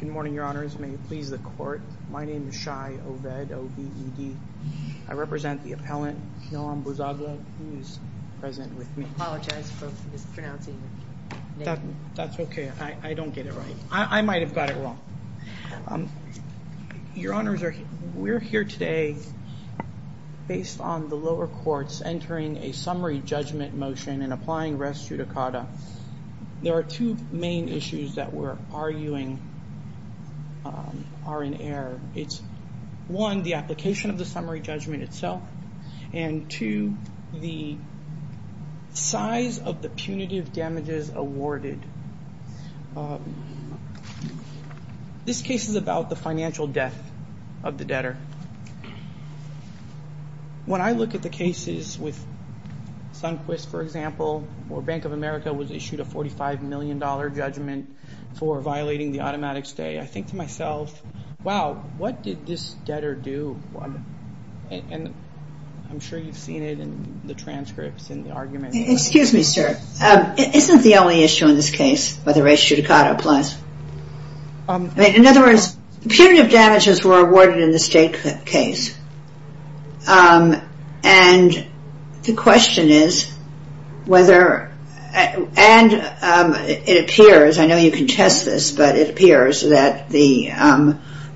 Good morning, Your Honors. May it please the Court, my name is Shai Oved, O-V-E-D. I represent the appellant, Noam Bouzaglou, who is present with me. I apologize for mispronouncing your name. That's okay. I don't get it right. I might have got it wrong. Your Honors, we're here today based on the lower courts entering a and applying rest judicata. There are two main issues that we're arguing are in error. It's one, the application of the summary judgment itself, and two, the size of the punitive damages awarded. This case is about the financial death of the debtor. When I look at the cases with Sunquist, for example, where Bank of America was issued a $45 million judgment for violating the automatic stay, I think to myself, wow, what did this debtor do? I'm sure you've seen it in the transcripts and the arguments. Excuse me, sir. Isn't the only issue in this case whether rest judicata applies? In other The question is whether, and it appears, I know you can test this, but it appears that the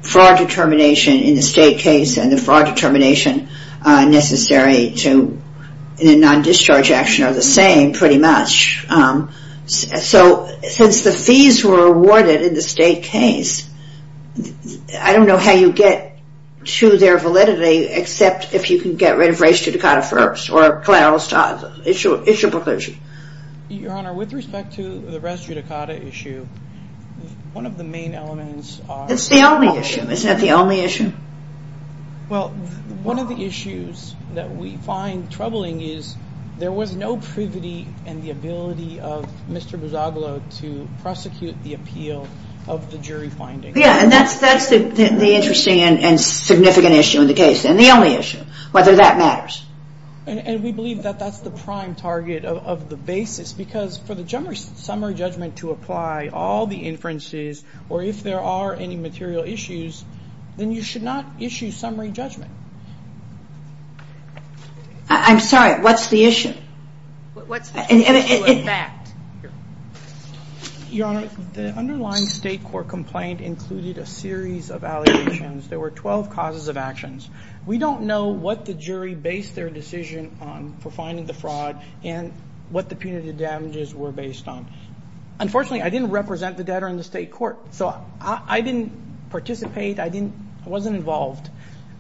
fraud determination in the state case and the fraud determination necessary to a non-discharge action are the same pretty much. Since the fees were awarded in the state case, I don't know how you get to their validity except if you can get rid of rest judicata first or collateral issue preclusion. Your Honor, with respect to the rest judicata issue, one of the main elements are- That's the only issue. Isn't that the only issue? Well, one of the issues that we find troubling is there was no privity in the ability of Mr. Yeah, and that's the interesting and significant issue in the case, and the only issue, whether that matters. And we believe that that's the prime target of the basis, because for the summary judgment to apply, all the inferences, or if there are any material issues, then you should not issue summary judgment. I'm sorry, what's the issue? What's the issue of fact? Your Honor, the underlying state court complaint included a series of allegations. There were 12 causes of actions. We don't know what the jury based their decision on for finding the fraud and what the punitive damages were based on. Unfortunately, I didn't represent the debtor in the state court, so I didn't participate. I wasn't involved.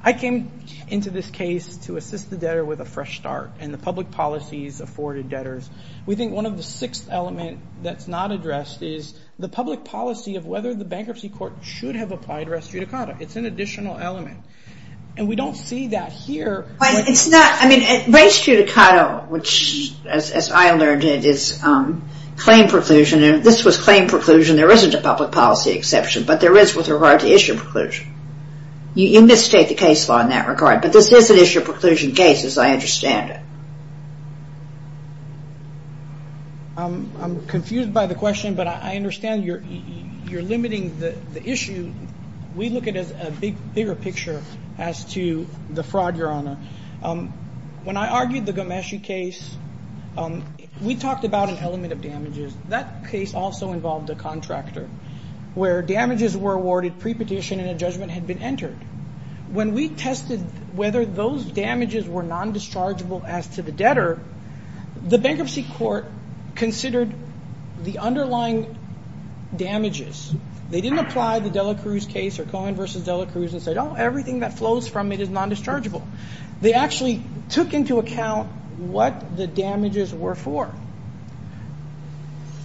I came into this case to assist the debtor with a fresh start, and public policies afforded debtors. We think one of the sixth element that's not addressed is the public policy of whether the bankruptcy court should have applied res judicata. It's an additional element. And we don't see that here. But it's not, I mean, res judicata, which as I learned it is claim preclusion, and this was claim preclusion. There isn't a public policy exception, but there is with regard to issue preclusion. You misstate the case law in that regard, but this is an issue preclusion case as I understand it. I'm confused by the question, but I understand you're limiting the issue. We look at it as a bigger picture as to the fraud, Your Honor. When I argued the Ghomeshi case, we talked about an element of damages. That case also involved a contractor where damages were awarded pre-petition and a judgment had been entered. When we tested whether those damages were non-dischargeable as to the debtor, the bankruptcy court considered the underlying damages. They didn't apply the Dela Cruz case or Cohen v. Dela Cruz and say, oh, everything that flows from it is non-dischargeable. They actually took into account what the damages were for.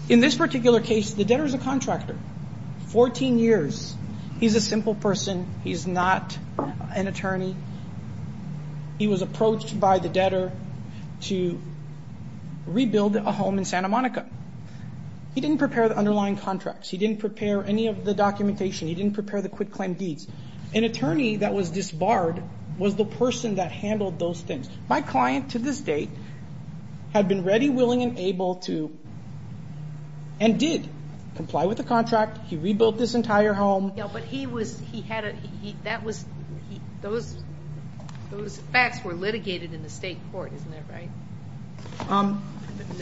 In this particular case, the debtor is a contractor, 14 years. He's a simple person. He's not an attorney. He was approached by the debtor to rebuild a home in Santa Monica. He didn't prepare the underlying contracts. He didn't prepare any of the documentation. He didn't prepare the quit-claim deeds. An attorney that was disbarred was the person that handled those things. My client, to this date, had been ready, willing, and able to and did comply with the contract. He rebuilt this entire home. Yeah, but he was, he had a, he, that was, he, those, those facts were litigated in the state court, isn't that right?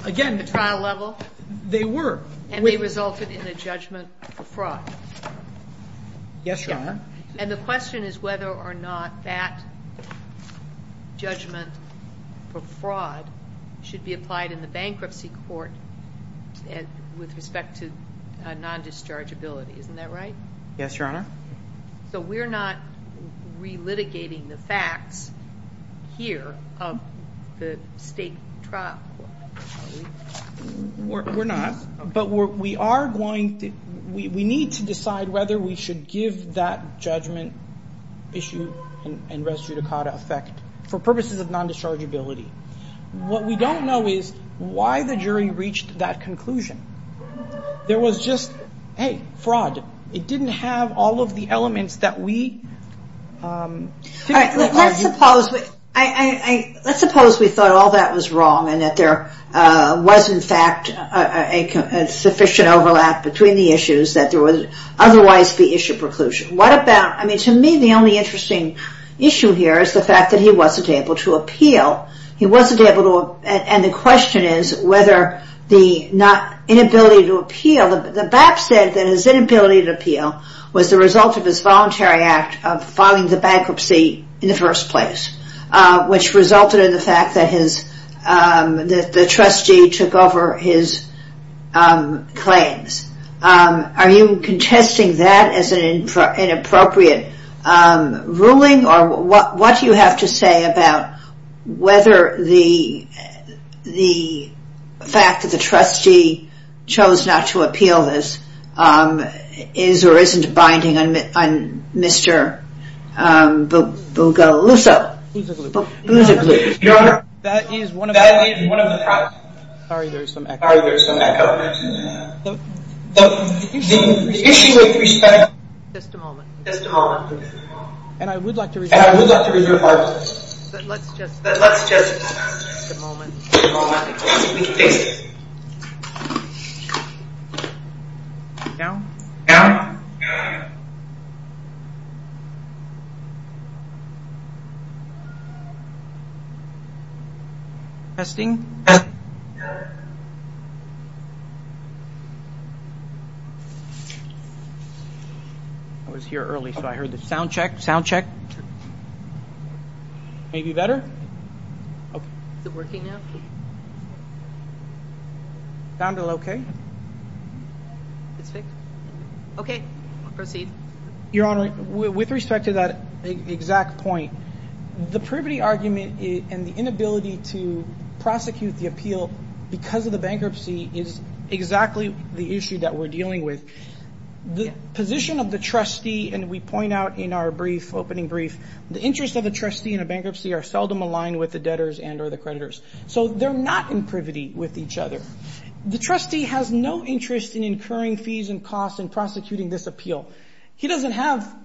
Again, At the trial level? They were. And they resulted in a judgment for fraud? Yes, Your Honor. And the question is whether or not that judgment for fraud should be applied in the bankruptcy court with respect to non-dischargeability, isn't that right? Yes, Your Honor. So we're not re-litigating the facts here of the state trial court, are we? We're not, but we are going to, we need to decide whether we should give that judgment issue and res judicata effect for purposes of non-dischargeability. What we don't know is why the jury reached that conclusion. There was just, hey, fraud. It didn't have all of the elements that we, All right, let's suppose, let's suppose we thought all that was wrong and that there was, in fact, a sufficient overlap between the issues that there would otherwise be issue preclusion. What about, I mean, to me, the only interesting issue here is the fact that he wasn't able to appeal. He wasn't able to, and the question is whether the not, inability to appeal, the BAP said that his inability to appeal was the result of his voluntary act of filing the bankruptcy in the first place, which resulted in the fact that his, the trustee took over his claims. Are you contesting that as an inappropriate ruling or what do you have to say about whether the fact that the trustee chose not to appeal this is or isn't binding on Mr. Bougaluso? That is one of the problems. Sorry, there's some echo. The issue with respect, just a moment, just a moment, and I would like to reserve, and I would like to reserve our time, but let's just, let's just, just a moment, just a moment, because we can fix it. Now? Now? Testing. I was here early, so I heard the sound check. Sound check. Maybe better? Is it working now? Sounded okay. It's fixed? Okay. Proceed. Your Honor, with respect to that exact point, the privity argument and the inability to prosecute the appeal because of the bankruptcy is exactly the issue that we're dealing with. The position of the trustee, and we point out in our brief, opening brief, the interest of a trustee in a bankruptcy are seldom aligned with the debtors and or the creditors. So they're not in privity with each other. The trustee has no interest in He doesn't have,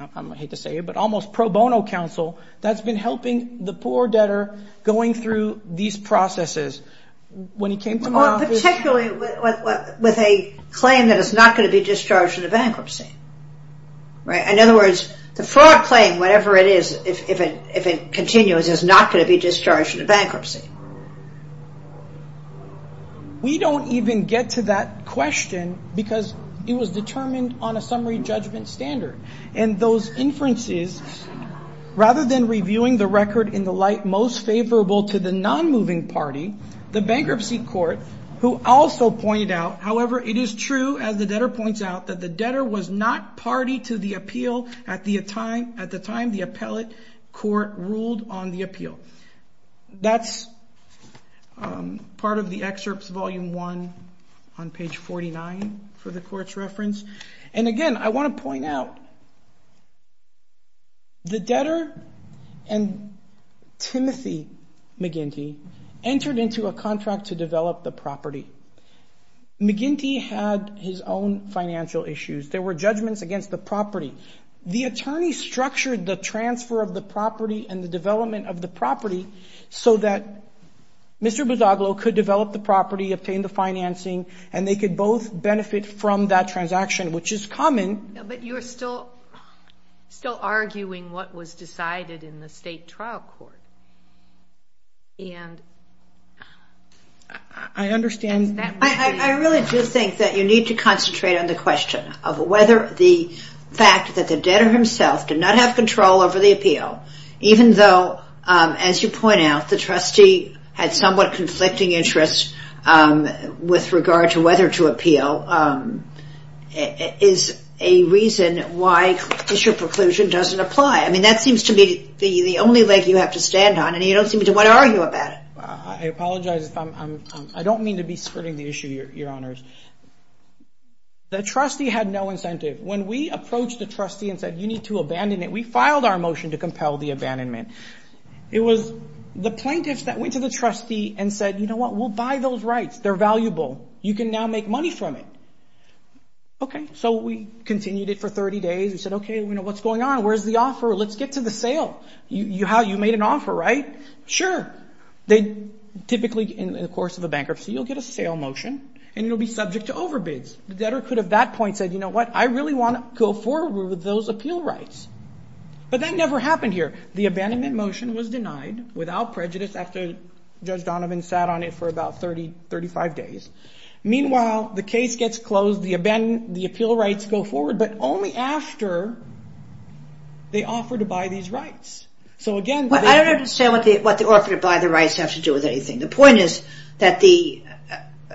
I hate to say it, but almost pro bono counsel that's been helping the poor debtor going through these processes when he came to office. Particularly with a claim that it's not going to be discharged in a bankruptcy, right? In other words, the fraud claim, whatever it is, if it continues, is not going to be discharged in a bankruptcy. We don't even get to that question because it was determined on a summary judgment standard. And those inferences, rather than reviewing the record in the light most favorable to the non-moving party, the bankruptcy court, who also pointed out, however, it is true, as the debtor points out, that the debtor was not party to the appeal at the time the appellate court ruled on the appeal. That's part of the excerpts, Volume 1, on page 49 for the court's reference. And again, I want to point out, the debtor and Timothy McGinty entered into a contract to develop the property. McGinty had his own financial issues. There were judgments against the property. The attorney structured the transfer of the property and the development of the property so that Mr. Bozoglo could develop the property, obtain the financing, and they could both benefit from that transaction, which is common. But you're still arguing what was decided in the state trial court. And that would be of whether the fact that the debtor himself did not have control over the appeal, even though, as you point out, the trustee had somewhat conflicting interests with regard to whether to appeal, is a reason why this your preclusion doesn't apply. I mean, that seems to be the only leg you have to stand on, and you don't seem to want to argue about it. I apologize. I don't mean to be skirting the issue, Your Honors. The trustee had no incentive. When we approached the trustee and said, you need to abandon it, we filed our motion to compel the abandonment. It was the plaintiffs that went to the trustee and said, you know what, we'll buy those rights. They're valuable. You can now make money from it. Okay. So we continued it for 30 days. We said, okay, what's going on? Where's the offer? Let's get to the sale. You made an offer, right? Sure. They typically, in the course of a bankruptcy, you'll get a sale motion, and you'll be subject to overbids. The debtor could have at that point said, you know what, I really want to go forward with those appeal rights. But that never happened here. The abandonment motion was denied without prejudice after Judge Donovan sat on it for about 30, 35 days. Meanwhile, the case gets closed, the appeal rights go forward, but only after they offer to buy these rights. I don't understand what the offer to buy the rights have to do with anything. The point is that the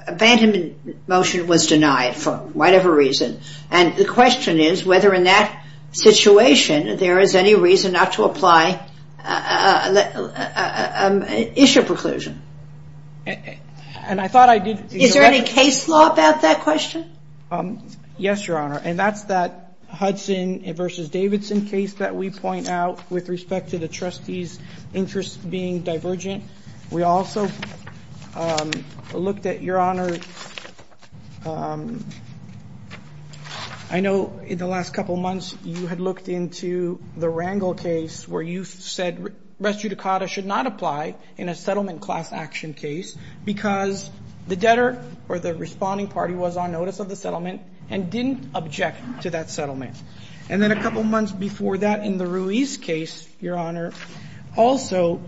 abandonment motion was denied for whatever reason, and the question is whether in that situation there is any reason not to apply an issue preclusion. Is there any case law about that question? Yes, Your Honor. And that's that Hudson v. Davidson case that we point out with respect to the trustee's interest being divergent. We also looked at, Your Honor, I know in the last couple months you had looked into the Rangel case where you said res judicata should not apply in a settlement class action case because the responding party was on notice of the settlement and didn't object to that settlement. And then a couple months before that in the Ruiz case, Your Honor, also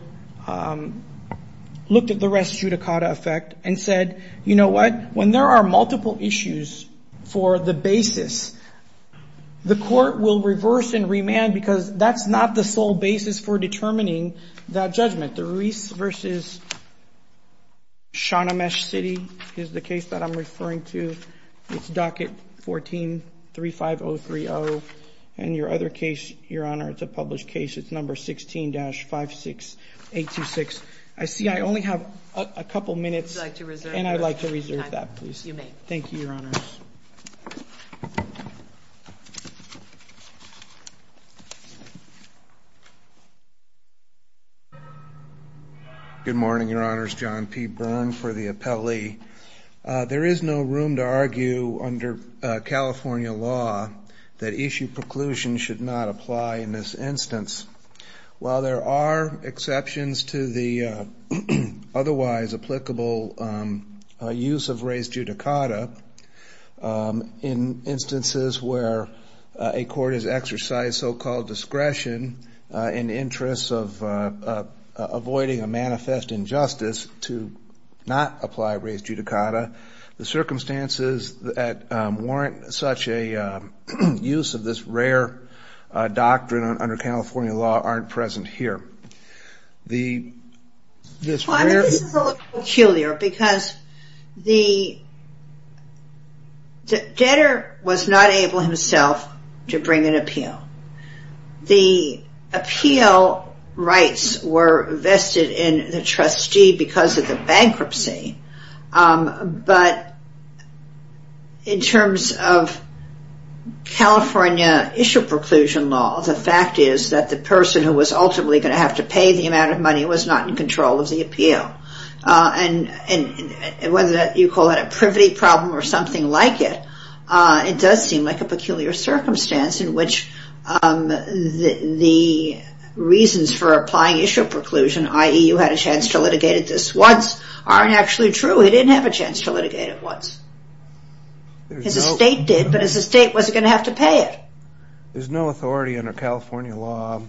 looked at the res judicata effect and said, you know what, when there are multiple issues for the basis, the court will reverse and remand because that's not the sole basis for determining that judgment. The Ruiz v. Shahnamesh City is the case that I'm referring to. It's docket 1435030. And your other case, Your Honor, it's a published case. It's number 16-56826. I see I only have a couple minutes. Would you like to reserve your time? And I'd like to reserve that, please. You may. Thank you, Your Honor. Good morning, Your Honors. John P. Byrne for the appellee. There is no room to argue under California law that issue preclusion should not apply in this instance. While there are exceptions to the otherwise applicable use of res judicata, in instances where a court has exercised so-called discretion in the interest of avoiding a manifest injustice to not apply res judicata, the circumstances that warrant such a use of this rare doctrine under California law aren't present here. This is a little peculiar because the debtor was not able himself to bring an appeal. The appeal rights were vested in the trustee because of the bankruptcy. But in terms of California issue preclusion law, the fact is that the person who was ultimately going to have to pay the amount of money was not in control of the appeal. And whether you call it a privity problem or something like it, it does seem like a peculiar circumstance in which the reasons for applying issue preclusion, i.e. you had a chance to litigate it just once, aren't actually true. He didn't have a chance to litigate it once. His estate did, but his estate wasn't going to have to pay it. There's no authority under California law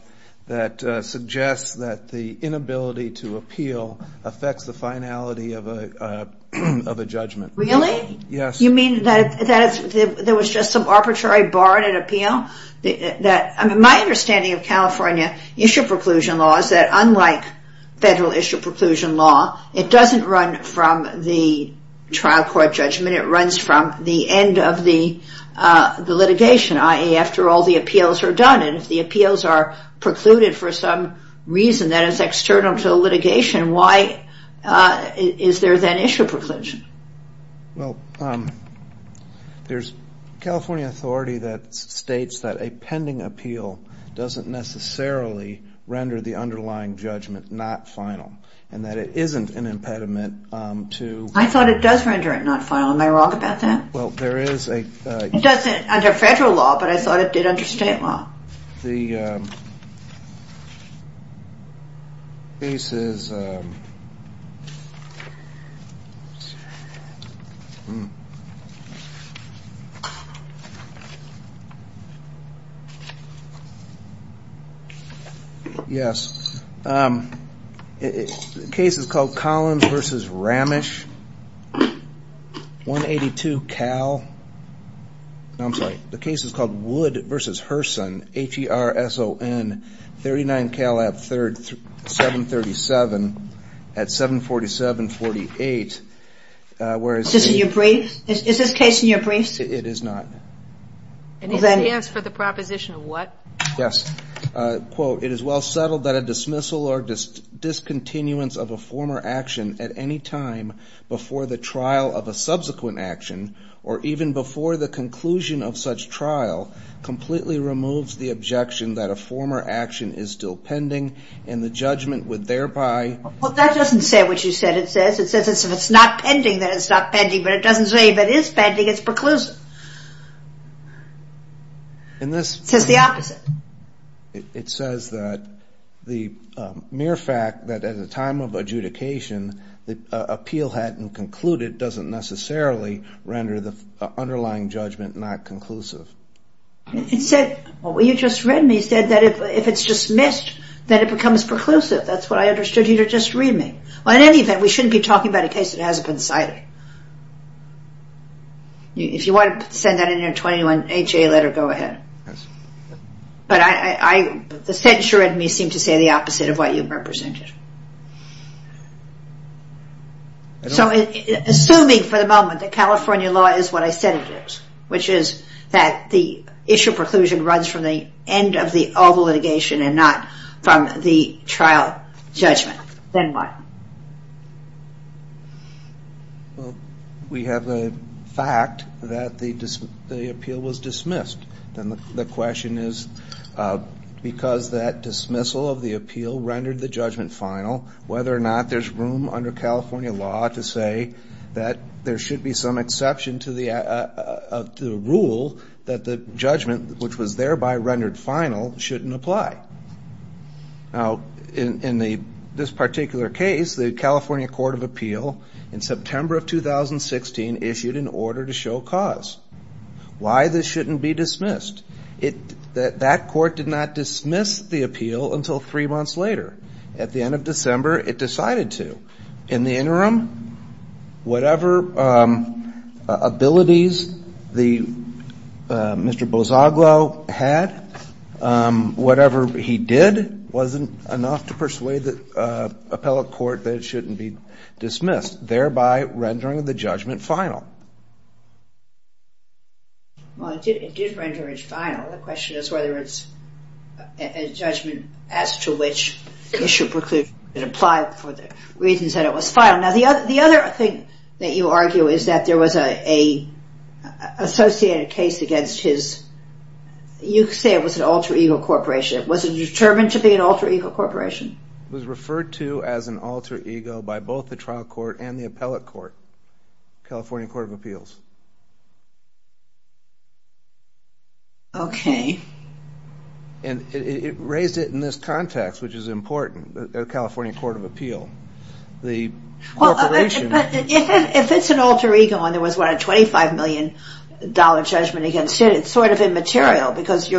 that suggests that the inability to appeal affects the finality of a judgment. Really? Yes. You mean that there was just some arbitrary bar in an appeal? My understanding of California issue preclusion law is that unlike federal issue preclusion law, it doesn't run from the trial court judgment. It runs from the end of the litigation, i.e. after all the appeals are done. And if the appeals are precluded for some reason that is external to the litigation, why is there then issue preclusion? Well, there's California authority that states that a pending appeal doesn't necessarily render the underlying judgment not final and that it isn't an impediment to... I thought it does render it not final. Am I wrong about that? Well, there is a... It doesn't under federal law, but I thought it did under state law. The case is... Yes. The case is called Collins v. Ramish, 182 Cal. No, I'm sorry. The case is called Wood v. Herson, H-E-R-S-O-N, 39 Cal. 737 at 747-48, whereas... Is this in your briefs? Is this case in your briefs? It is not. It is for the proposition of what? Yes. Quote, It is well settled that a dismissal or discontinuance of a former action at any time before the trial of a subsequent action or even before the conclusion of such trial completely removes the objection that a former action is still pending and the judgment would thereby... Well, that doesn't say what you said it says. It says if it's not pending, then it's not pending, but it doesn't say if it is pending, it's preclusive. In this... It says the opposite. It says that the mere fact that at a time of adjudication the appeal hadn't concluded doesn't necessarily render the underlying judgment not conclusive. It said... Well, you just read me. It said that if it's dismissed, then it becomes preclusive. That's what I understood here. Just read me. Well, in any event, we shouldn't be talking about a case that hasn't been cited. If you want to send that in your 21HA letter, go ahead. Yes. But I... The censure in me seemed to say the opposite of what you've represented. So assuming for the moment that California law is what I said it is, which is that the issue of preclusion runs from the end of all the litigation and not from the trial judgment, then what? Well, we have a fact that the appeal was dismissed. Then the question is because that dismissal of the appeal rendered the judgment final, whether or not there's room under California law to say that there should be some exception to the rule that the judgment, which was thereby rendered final, shouldn't apply. Now, in this particular case, the California Court of Appeal, in September of 2016, issued an order to show cause. Why this shouldn't be dismissed? That court did not dismiss the appeal until three months later. At the end of December, it decided to. In the interim, whatever abilities Mr. Bozzaglo had, whatever he did, wasn't enough to persuade the appellate court that it shouldn't be dismissed, thereby rendering the judgment final. Well, it did render it final. The question is whether it's a judgment as to which issue preclusion should apply for the reasons that it was final. Now, the other thing that you argue is that there was an associated case against his, you say it was an alter ego corporation. Was it determined to be an alter ego corporation? It was referred to as an alter ego by both the trial court and the appellate court. California Court of Appeals. Okay. And it raised it in this context, which is important, the California Court of Appeals. Well, if it's an alter ego and there was a $25 million judgment against it, it's sort of immaterial because if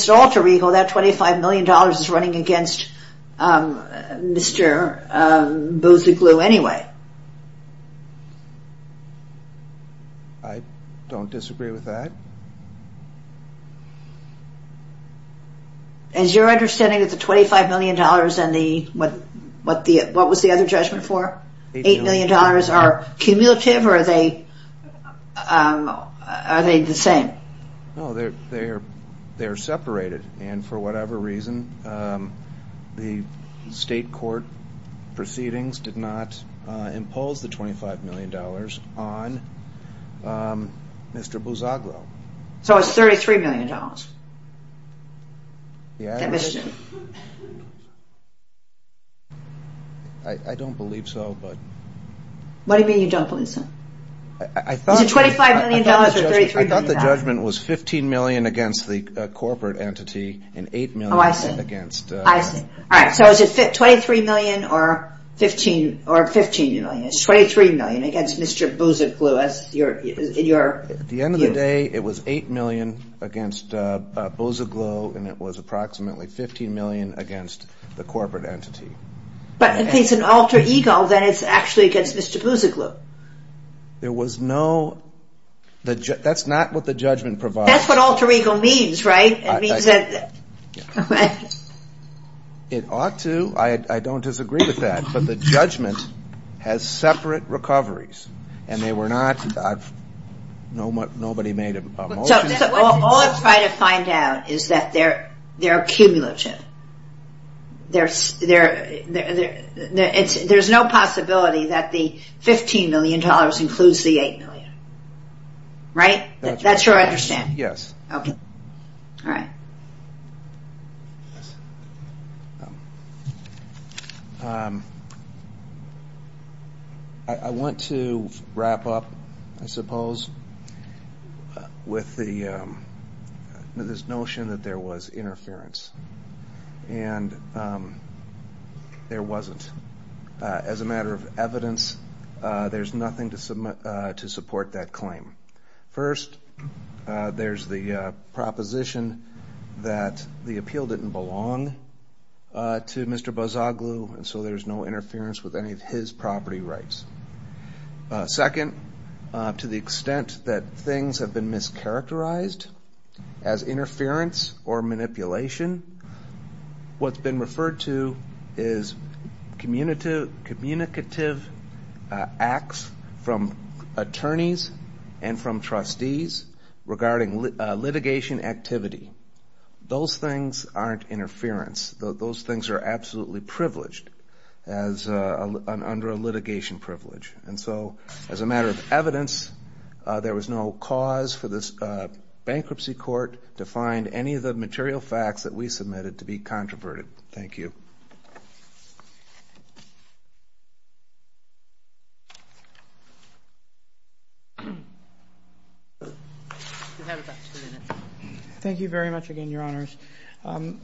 it's an alter ego, that $25 million is running against Mr. Bozzaglo anyway. I don't disagree with that. Is your understanding that the $25 million and what was the other judgment for, $8 million, are cumulative or are they the same? No, they're separated and for whatever reason, the state court proceedings did not impose the $25 million on Mr. Bozzaglo. So it's $33 million? I don't believe so. What do you mean you don't believe so? Is it $25 million or $33 million? I thought the judgment was $15 million against the corporate entity and $8 million against... Oh, I see. I see. All right, so is it $23 million or $15 million? It's $23 million against Mr. Bozzaglo. At the end of the day, it was $8 million against Bozzaglo and it was approximately $15 million against the corporate entity. But if it's an alter ego, then it's actually against Mr. Bozzaglo. There was no... That's not what the judgment provides. That's what alter ego means, right? It ought to. I don't disagree with that. But the judgment has separate recoveries and they were not... Nobody made a motion... All I'm trying to find out is that they're cumulative. There's no possibility that the $15 million includes the $8 million. Right? That's your understanding? Yes. Okay. All right. I want to wrap up, I suppose, with this notion that there was interference. And there wasn't. As a matter of evidence, there's nothing to support that claim. First, there's the proposition that the appeal didn't belong to Mr. Bozzaglo, and so there's no interference with any of his property rights. Second, to the extent that things have been mischaracterized as interference or manipulation, what's been referred to is communicative acts from attorneys and from trustees regarding litigation activity. Those things aren't interference. Those things are absolutely privileged under a litigation privilege. And so, as a matter of evidence, there was no cause for this bankruptcy court to find any of the material facts that we submitted to be controverted. Thank you. Thank you very much again, Your Honors.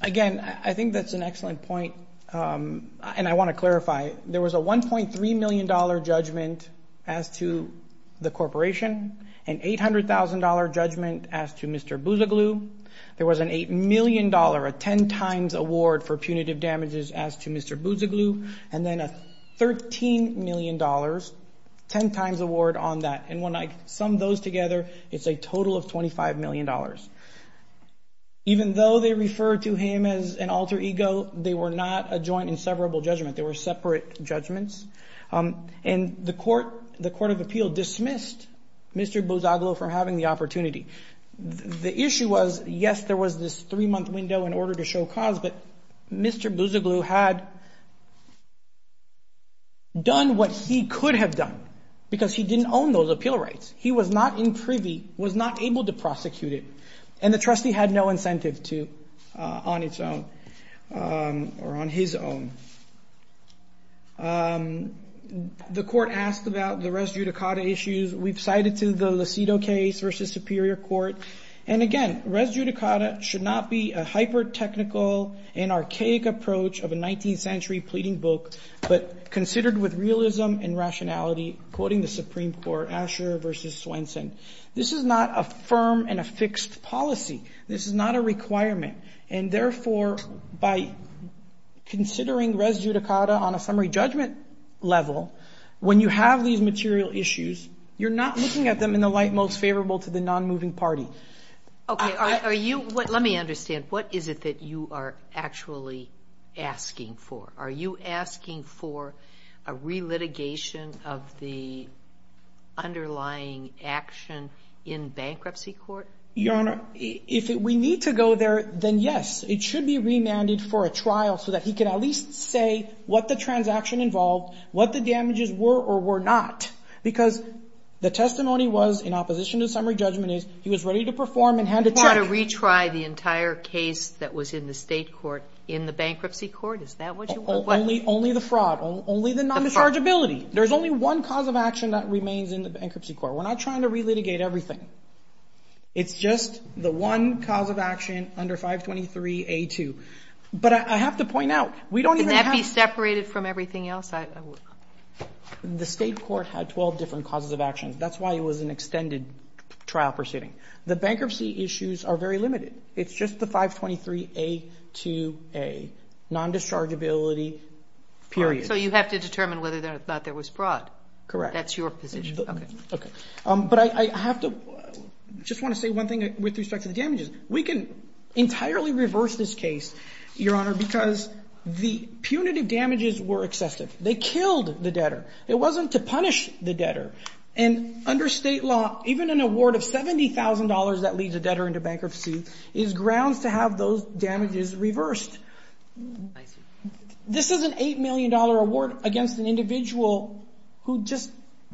Again, I think that's an excellent point, and I want to clarify. There was a $1.3 million judgment as to the corporation, an $800,000 judgment as to Mr. Bozzaglo. There was an $8 million, a 10-times award for punitive damages as to Mr. Bozzaglo, and then a $13 million, 10-times award on that. And when I sum those together, it's a total of $25 million. Even though they refer to him as an alter ego, they were not a joint inseparable judgment. They were separate judgments. And the Court of Appeal dismissed Mr. Bozzaglo for having the opportunity. The issue was, yes, there was this three-month window in order to show cause, but Mr. Bozzaglo had done what he could have done because he didn't own those appeal rights. He was not in privy, was not able to prosecute it, and the trustee had no incentive to on its own or on his own. The court asked about the res judicata issues. We've cited to the Lucido case versus Superior Court, and again, res judicata should not be a hyper-technical and archaic approach of a 19th-century pleading book, but considered with realism and rationality, quoting the Supreme Court, Asher versus Swenson. This is not a firm and a fixed policy. This is not a requirement. And therefore, by considering res judicata on a summary judgment level, when you have these material issues, you're not looking at them in the light most favorable to the non-moving party. Okay. Are you – let me understand. What is it that you are actually asking for? Are you asking for a relitigation of the underlying action in bankruptcy court? Your Honor, if we need to go there, then yes. It should be remanded for a trial so that he can at least say what the transaction involved, what the damages were or were not, because the testimony was in opposition to summary judgment is he was ready to perform and had to check. You want to retry the entire case that was in the state court in the bankruptcy court? Is that what you want? Only the fraud. Only the non-dischargeability. The fraud. There's only one cause of action that remains in the bankruptcy court. We're not trying to relitigate everything. It's just the one cause of action under 523A2. But I have to point out, we don't even have to – Can that be separated from everything else? The state court had 12 different causes of action. That's why it was an extended trial proceeding. The bankruptcy issues are very limited. It's just the 523A2A, non-dischargeability, period. So you have to determine whether or not there was fraud. Correct. That's your position. Okay. But I have to – I just want to say one thing with respect to the damages. We can entirely reverse this case, Your Honor, because the punitive damages were excessive. They killed the debtor. It wasn't to punish the debtor. And under state law, even an award of $70,000 that leads a debtor into bankruptcy is grounds to have those damages reversed. This is an $8 million award against an individual who just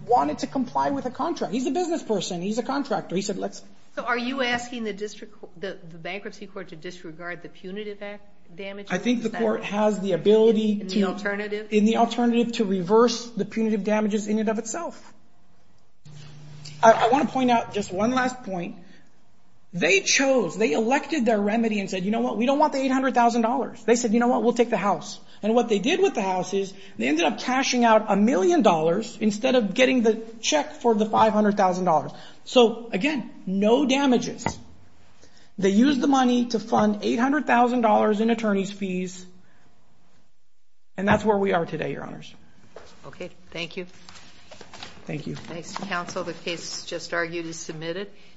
wanted to comply with a contract. He's a business person. He's a contractor. He said let's – So are you asking the bankruptcy court to disregard the punitive damages? I think the court has the ability – In the alternative? the punitive damages in and of itself. I want to point out just one last point. They chose – they elected their remedy and said, you know what, we don't want the $800,000. They said, you know what, we'll take the house. And what they did with the house is they ended up cashing out a million dollars instead of getting the check for the $500,000. So, again, no damages. They used the money to fund $800,000 in attorney's fees. And that's where we are today, Your Honors. Okay. Thank you. Thank you. Thanks, counsel. The case just argued is submitted.